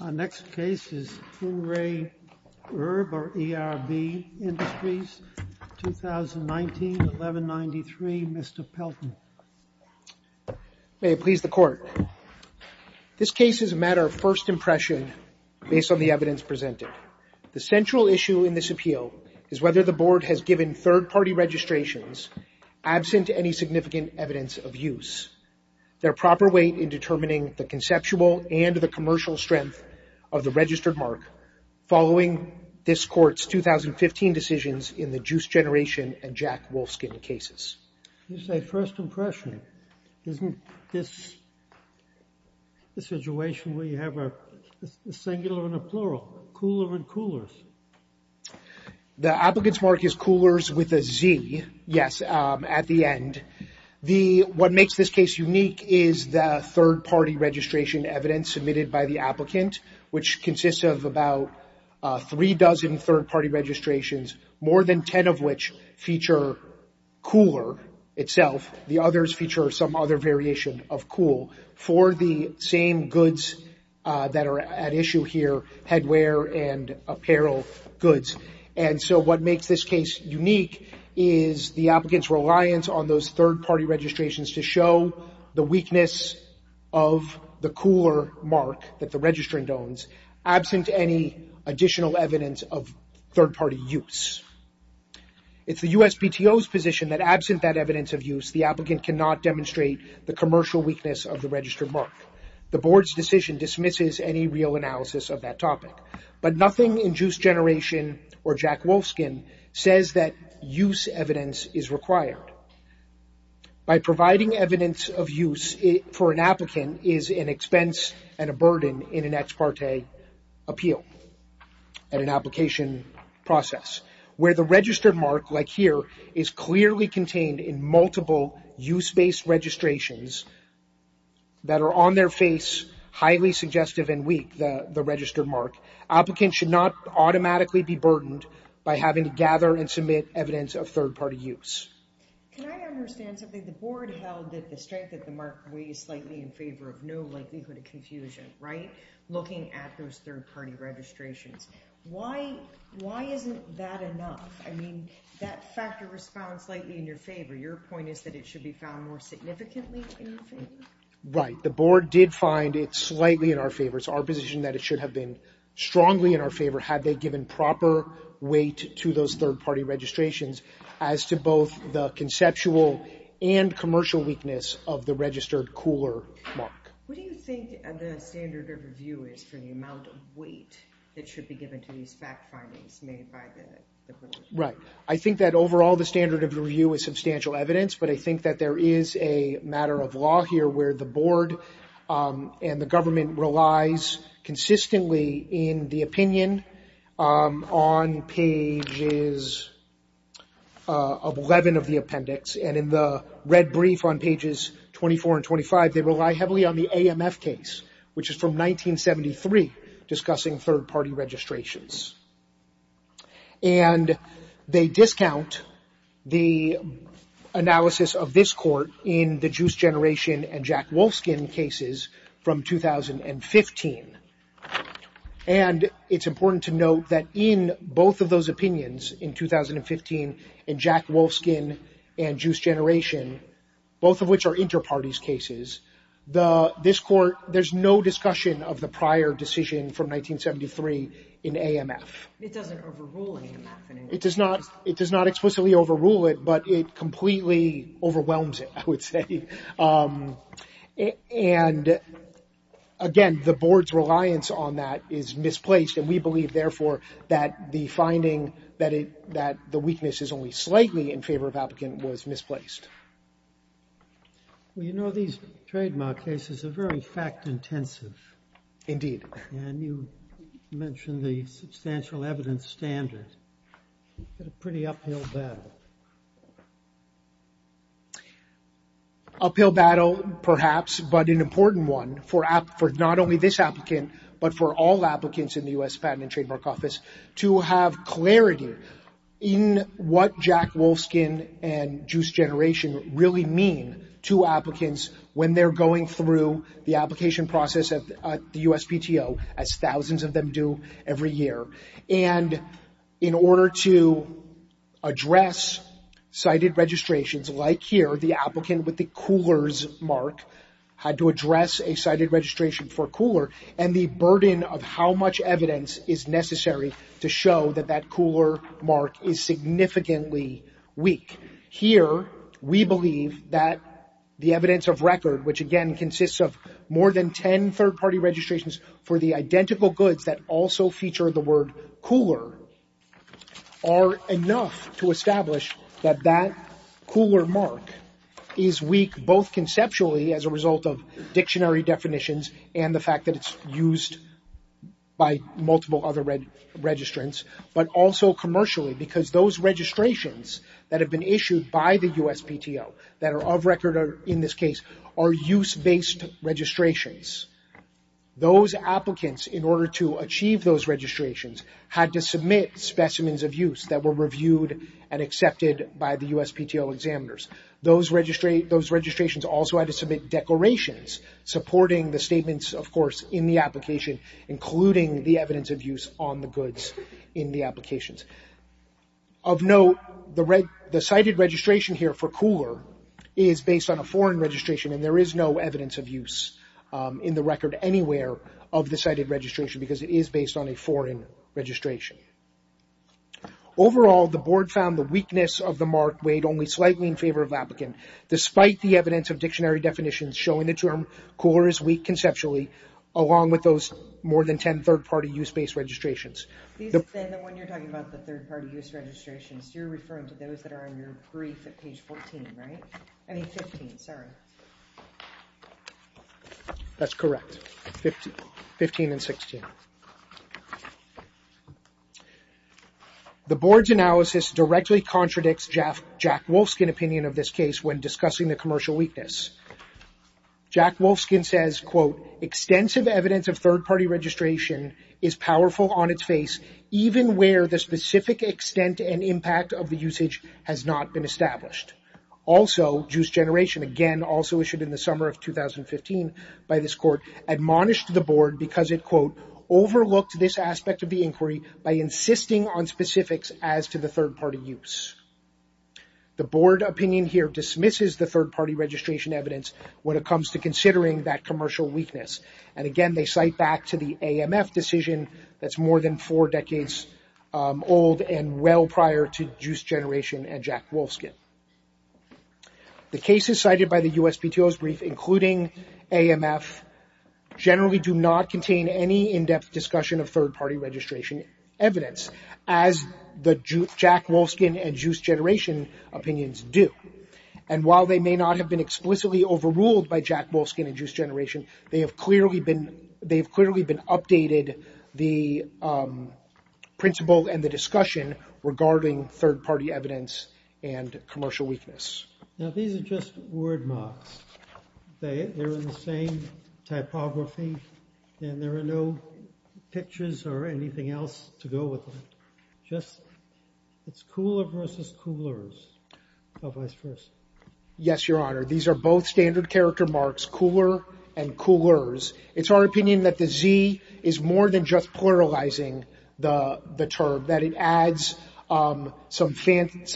The next case is 2 Ray ERB Industries, 2019-1193. Mr. Pelton, may it please the court. This case is a matter of first impression based on the evidence presented. The central issue in this appeal is whether the board has given third party registrations absent any significant evidence of use. Their proper weight in determining the conceptual and the commercial strength of the registered mark following this court's 2015 decisions in the Juice Generation and Jack Wolfskin cases. This is a first impression. Isn't this a situation where you have a singular and a plural, cooler and coolers? The applicant's mark is coolers with a Z, yes, at the end. What makes this case unique is the third party registration evidence submitted by the applicant. Which consists of about three dozen third party registrations, more than 10 of which feature cooler itself. The others feature some other variation of cool for the same goods that are at issue here, headwear and apparel goods. And so what makes this case unique is the applicant's reliance on those third party registrations to show the weakness of the absent any additional evidence of third party use. It's the USPTO's position that absent that evidence of use, the applicant cannot demonstrate the commercial weakness of the registered mark. The board's decision dismisses any real analysis of that topic. But nothing in Juice Generation or Jack Wolfskin says that use evidence is required. By providing evidence of use for an applicant is an expense and a burden in an ex parte appeal and an application process. Where the registered mark, like here, is clearly contained in multiple use based registrations that are on their face, highly suggestive and weak, the registered mark, applicants should not automatically be burdened by having to gather and submit evidence of third party use. Can I understand something? The board held that the strength of the mark weighs slightly in favor of no likelihood of confusion, right? Looking at those third party registrations. Why isn't that enough? I mean, that factor responds slightly in your favor. Your point is that it should be found more significantly in your favor? Right. The board did find it slightly in our favor. It's our position that it should have been strongly in our favor had they given proper weight to those third party registrations as to both the conceptual and commercial weakness of the registered cooler mark. What do you think the standard of review is for the amount of weight that should be given to these fact findings made by the commission? Right. I think that overall the standard of review is substantial evidence, but I think that there is a matter of law here where the board and the government relies consistently in the opinion on pages 11 of the appendix and in the red brief on pages 24 and 25, they rely heavily on the AMF case, which is from 1973 discussing third party registrations. And they discount the analysis of this court in the Juice Generation and Jack Wolfskin cases from 2015. And it's important to note that in both of those opinions in 2015, in Jack Wolfskin and Juice Generation, both of which are inter-parties cases, this court, there's no discussion of the prior decision from 1973 in AMF. It doesn't overrule AMF. It does not. It does not explicitly overrule it, but it completely overwhelms it, I would say. And again, the board's reliance on that is misplaced. And we believe, therefore, that the finding that the weakness is only slightly in favor of applicant was misplaced. Well, you know, these trademark cases are very fact intensive. Indeed. And you mentioned the substantial evidence standard. It's a pretty uphill battle. Uphill battle, perhaps, but an important one for not only this applicant, but for all applicants in the U.S. Patent and Trademark Office to have clarity in what Jack Wolfskin and Juice Generation really mean to applicants when they're going through the application process at the USPTO, as thousands of them do every year. And in order to address cited registrations, like here, the applicant with the coolers mark had to address a cited registration for a cooler, and the burden of how much evidence is necessary to show that that cooler mark is significantly weak. Here, we believe that the evidence of record, which, again, consists of more than 10 third-party registrations for the identical goods that also feature the word cooler, are enough to establish that that cooler mark is weak, both conceptually as a result of dictionary definitions and the fact that it's used by multiple other registrants, but also commercially, because those registrations that have been issued by the USPTO that are of in this case are use-based registrations. Those applicants, in order to achieve those registrations, had to submit specimens of use that were reviewed and accepted by the USPTO examiners. Those registrations also had to submit declarations supporting the statements, of course, in the application, including the evidence of use on the goods in the applications. Of note, the cited registration here for cooler is based on a foreign registration, and there is no evidence of use in the record anywhere of the cited registration, because it is based on a foreign registration. Overall, the board found the weakness of the mark weighed only slightly in favor of the applicant, despite the evidence of dictionary definitions showing the term cooler is weak conceptually, along with those more than 10 third-party use-based registrations. You said that when you're talking about the third-party use registrations, you're referring to those that are on your brief at page 14, right? I mean 15, sorry. That's correct. 15 and 16. The board's analysis directly contradicts Jack Wolfskin's opinion of this case when discussing the commercial weakness. Jack Wolfskin says, quote, extensive evidence of third-party registration is powerful on its face, even where the specific extent and impact of the usage has not been established. Also, Juice Generation, again, also issued in the summer of 2015 by this court, admonished the board because it, quote, overlooked this aspect of the inquiry by insisting on specifics as to the third-party use. The board opinion here dismisses the third-party registration evidence when it comes to considering that commercial weakness. And again, they cite back the AMF decision that's more than four decades old and well prior to Juice Generation and Jack Wolfskin. The cases cited by the USPTO's brief, including AMF, generally do not contain any in-depth discussion of third-party registration evidence, as the Jack Wolfskin and Juice Generation opinions do. And while they may not have been explicitly overruled by Jack Wolfskin and Juice Generation, they have clearly been updated the principle and the discussion regarding third-party evidence and commercial weakness. Now, these are just word marks. They're in the same typography, and there are no pictures or anything else to go with them. It's cooler versus coolers, otherwise first. Yes, Your Honor. These are both standard character marks, cooler and coolers. It's our opinion that the Z is more than just pluralizing the term, that it adds some fanciness,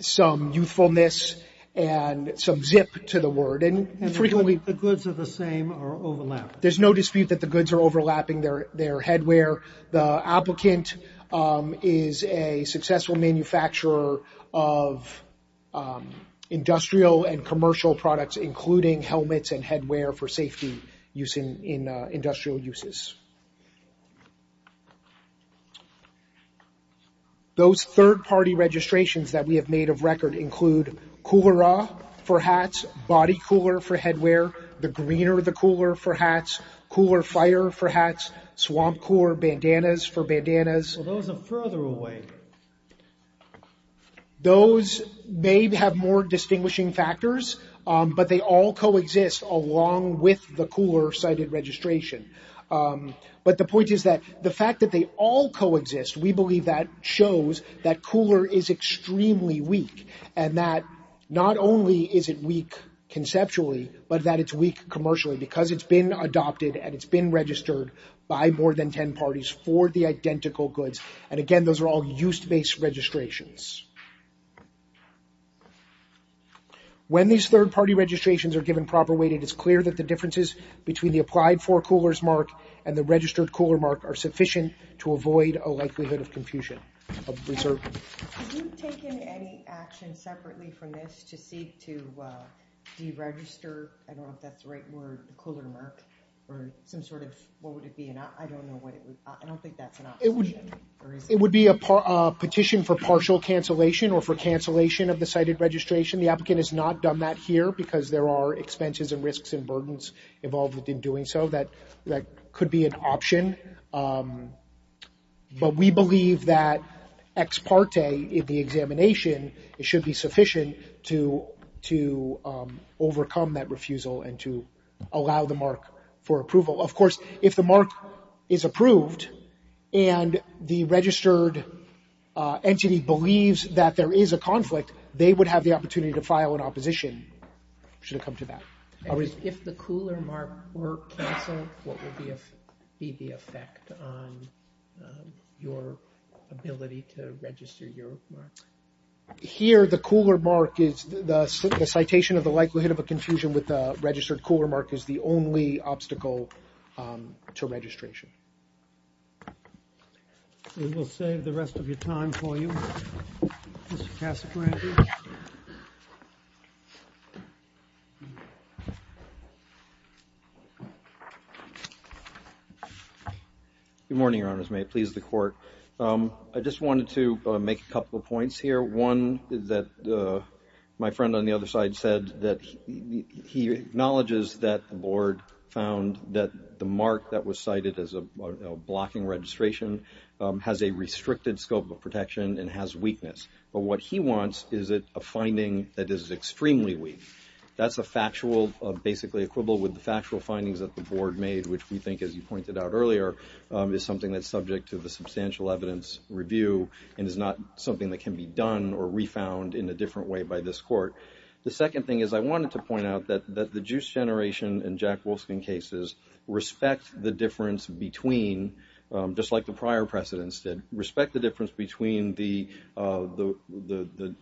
some youthfulness, and some zip to the word. And frequently, the goods are the same or overlap. There's no dispute that the goods are overlapping their headwear. The applicant is a successful manufacturer of industrial and commercial products, including helmets and headwear for safety use in industrial uses. Those third-party registrations that we have made of record include Coolera for hats, Body Cooler for headwear, The Greener the Cooler for hats, Cooler Fire for hats, Swamp Cooler Bandanas for bandanas. Those are further away. Those may have more distinguishing factors, but they all coexist along with the cooler-cited registration. But the point is that the fact that they all coexist, we believe that shows that cooler is extremely weak, and that not only is it weak conceptually, but that it's commercially, because it's been adopted and it's been registered by more than 10 parties for the identical goods. And again, those are all use-based registrations. When these third-party registrations are given proper weight, it is clear that the differences between the applied for coolers mark and the registered cooler mark are sufficient to avoid a likelihood of confusion. Have you taken any action separately from this to seek to deregister? I don't know if that's the right word, the cooler mark, or some sort of, what would it be? I don't know what it would, I don't think that's an option. It would be a petition for partial cancellation or for cancellation of the cited registration. The applicant has not done that here because there are expenses and risks and burdens involved in doing so. That could be an option, but we believe that ex parte in the examination, it should be sufficient to overcome that refusal and to allow the mark for approval. Of course, if the mark is approved and the registered entity believes that there is a conflict, they would have the opportunity to file an opposition should it come to that. If the cooler mark were cancelled, what would be the effect on your ability to register your mark? Here, the cooler mark is the citation of the likelihood of a confusion with the registered cooler mark is the only obstacle to registration. We will save the rest of your time for you, Mr. Casagrande. Good morning, Your Honors. May it please the Court. I just wanted to make a couple of points here. One is that my friend on the other side said that he acknowledges that the board found that the mark that was cited as a blocking registration has a restricted scope of protection and has weakness. But what he wants is a finding that is extremely weak. That's a factual, basically, equivalent with the factual findings that the board made, which we think, as you pointed out earlier, is something that's subject to the substantial evidence review and is not something that can be done or re-found in a different way by this court. The second thing is I wanted to point out that the Juice Generation and Jack Wolfskin cases respect the difference between, just like the prior precedents did, respect the difference between the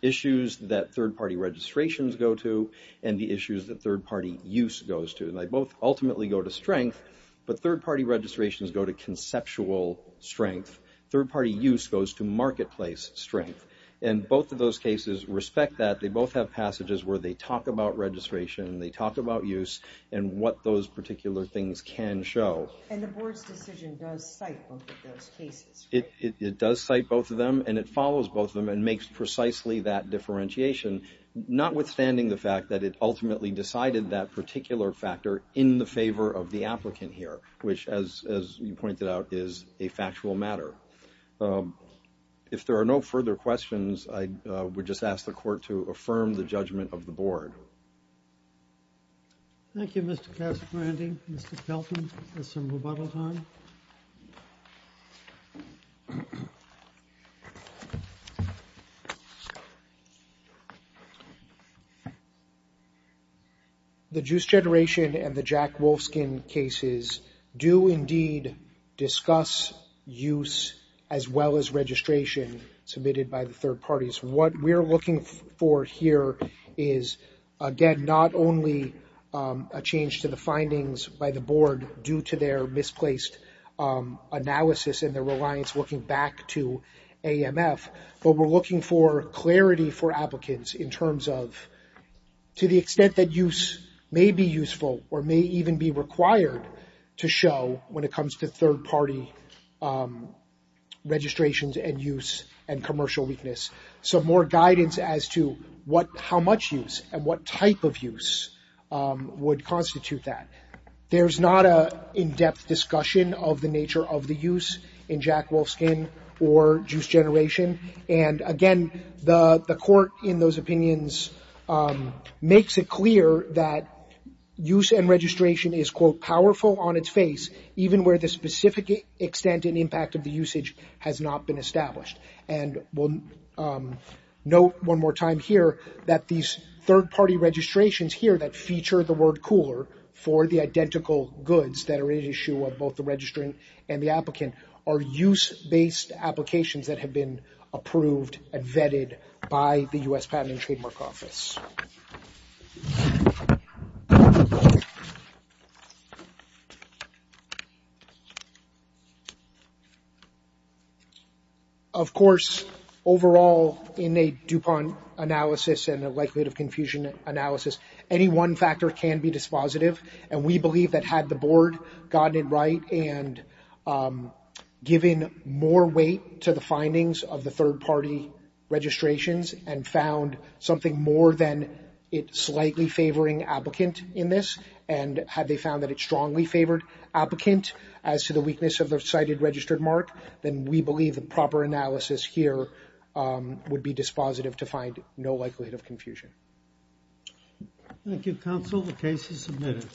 issues that third-party registrations go to and the issues that third-party use goes to. They both ultimately go to strength, but third-party registrations go to conceptual strength. Third-party use goes to marketplace strength. Both of those cases respect that. They both have passages where they talk about registration, they talk about use, and what those particular things can show. And the board's decision does cite both of those cases. It does cite both of them and it follows both of them and makes precisely that differentiation, notwithstanding the fact that it ultimately decided that particular factor in the favor of the applicant here, which, as you pointed out, is a factual matter. If there are no further questions, I would just ask the court to affirm the judgment of the board. Thank you, Mr. Casperanti. Mr. Pelton, there's some rebuttal time. The Juice Generation and the Jack Wolfskin cases do indeed discuss use as well as registration submitted by the third parties. What we're looking for here is, again, not only a change to the findings by the board due to their misplaced analysis and their reliance looking back to AMF, but we're looking for clarity for applicants in terms of, to the extent that use may be useful or may even be required to show when it comes to third-party registrations and use and commercial weakness, some more guidance as to how much use and what type of use would constitute that. There's not an in-depth discussion of the nature of the use in Jack Wolfskin or Juice Generation. Again, the court in those opinions makes it clear that use and registration is, quote, powerful on its face, even where the specific extent and impact of the usage has not been established. We'll note one more time here that these third-party registrations here that feature the word cooler for the identical goods that are an issue of both the registrant and the applicant are use-based applications that have been approved and vetted by the U.S. Patent and Trademark Office. Of course, overall, in a DuPont analysis and a likelihood of confusion analysis, any one factor can be dispositive, and we believe that had the board gotten it right and given more weight to the findings of the third-party registrations and found something more than its slightly favoring applicant in this, and had they found that it strongly favored applicant as to the weakness of the cited registered mark, then we believe the proper analysis here would be dispositive to find no likelihood of confusion. Thank you, counsel. The case is submitted.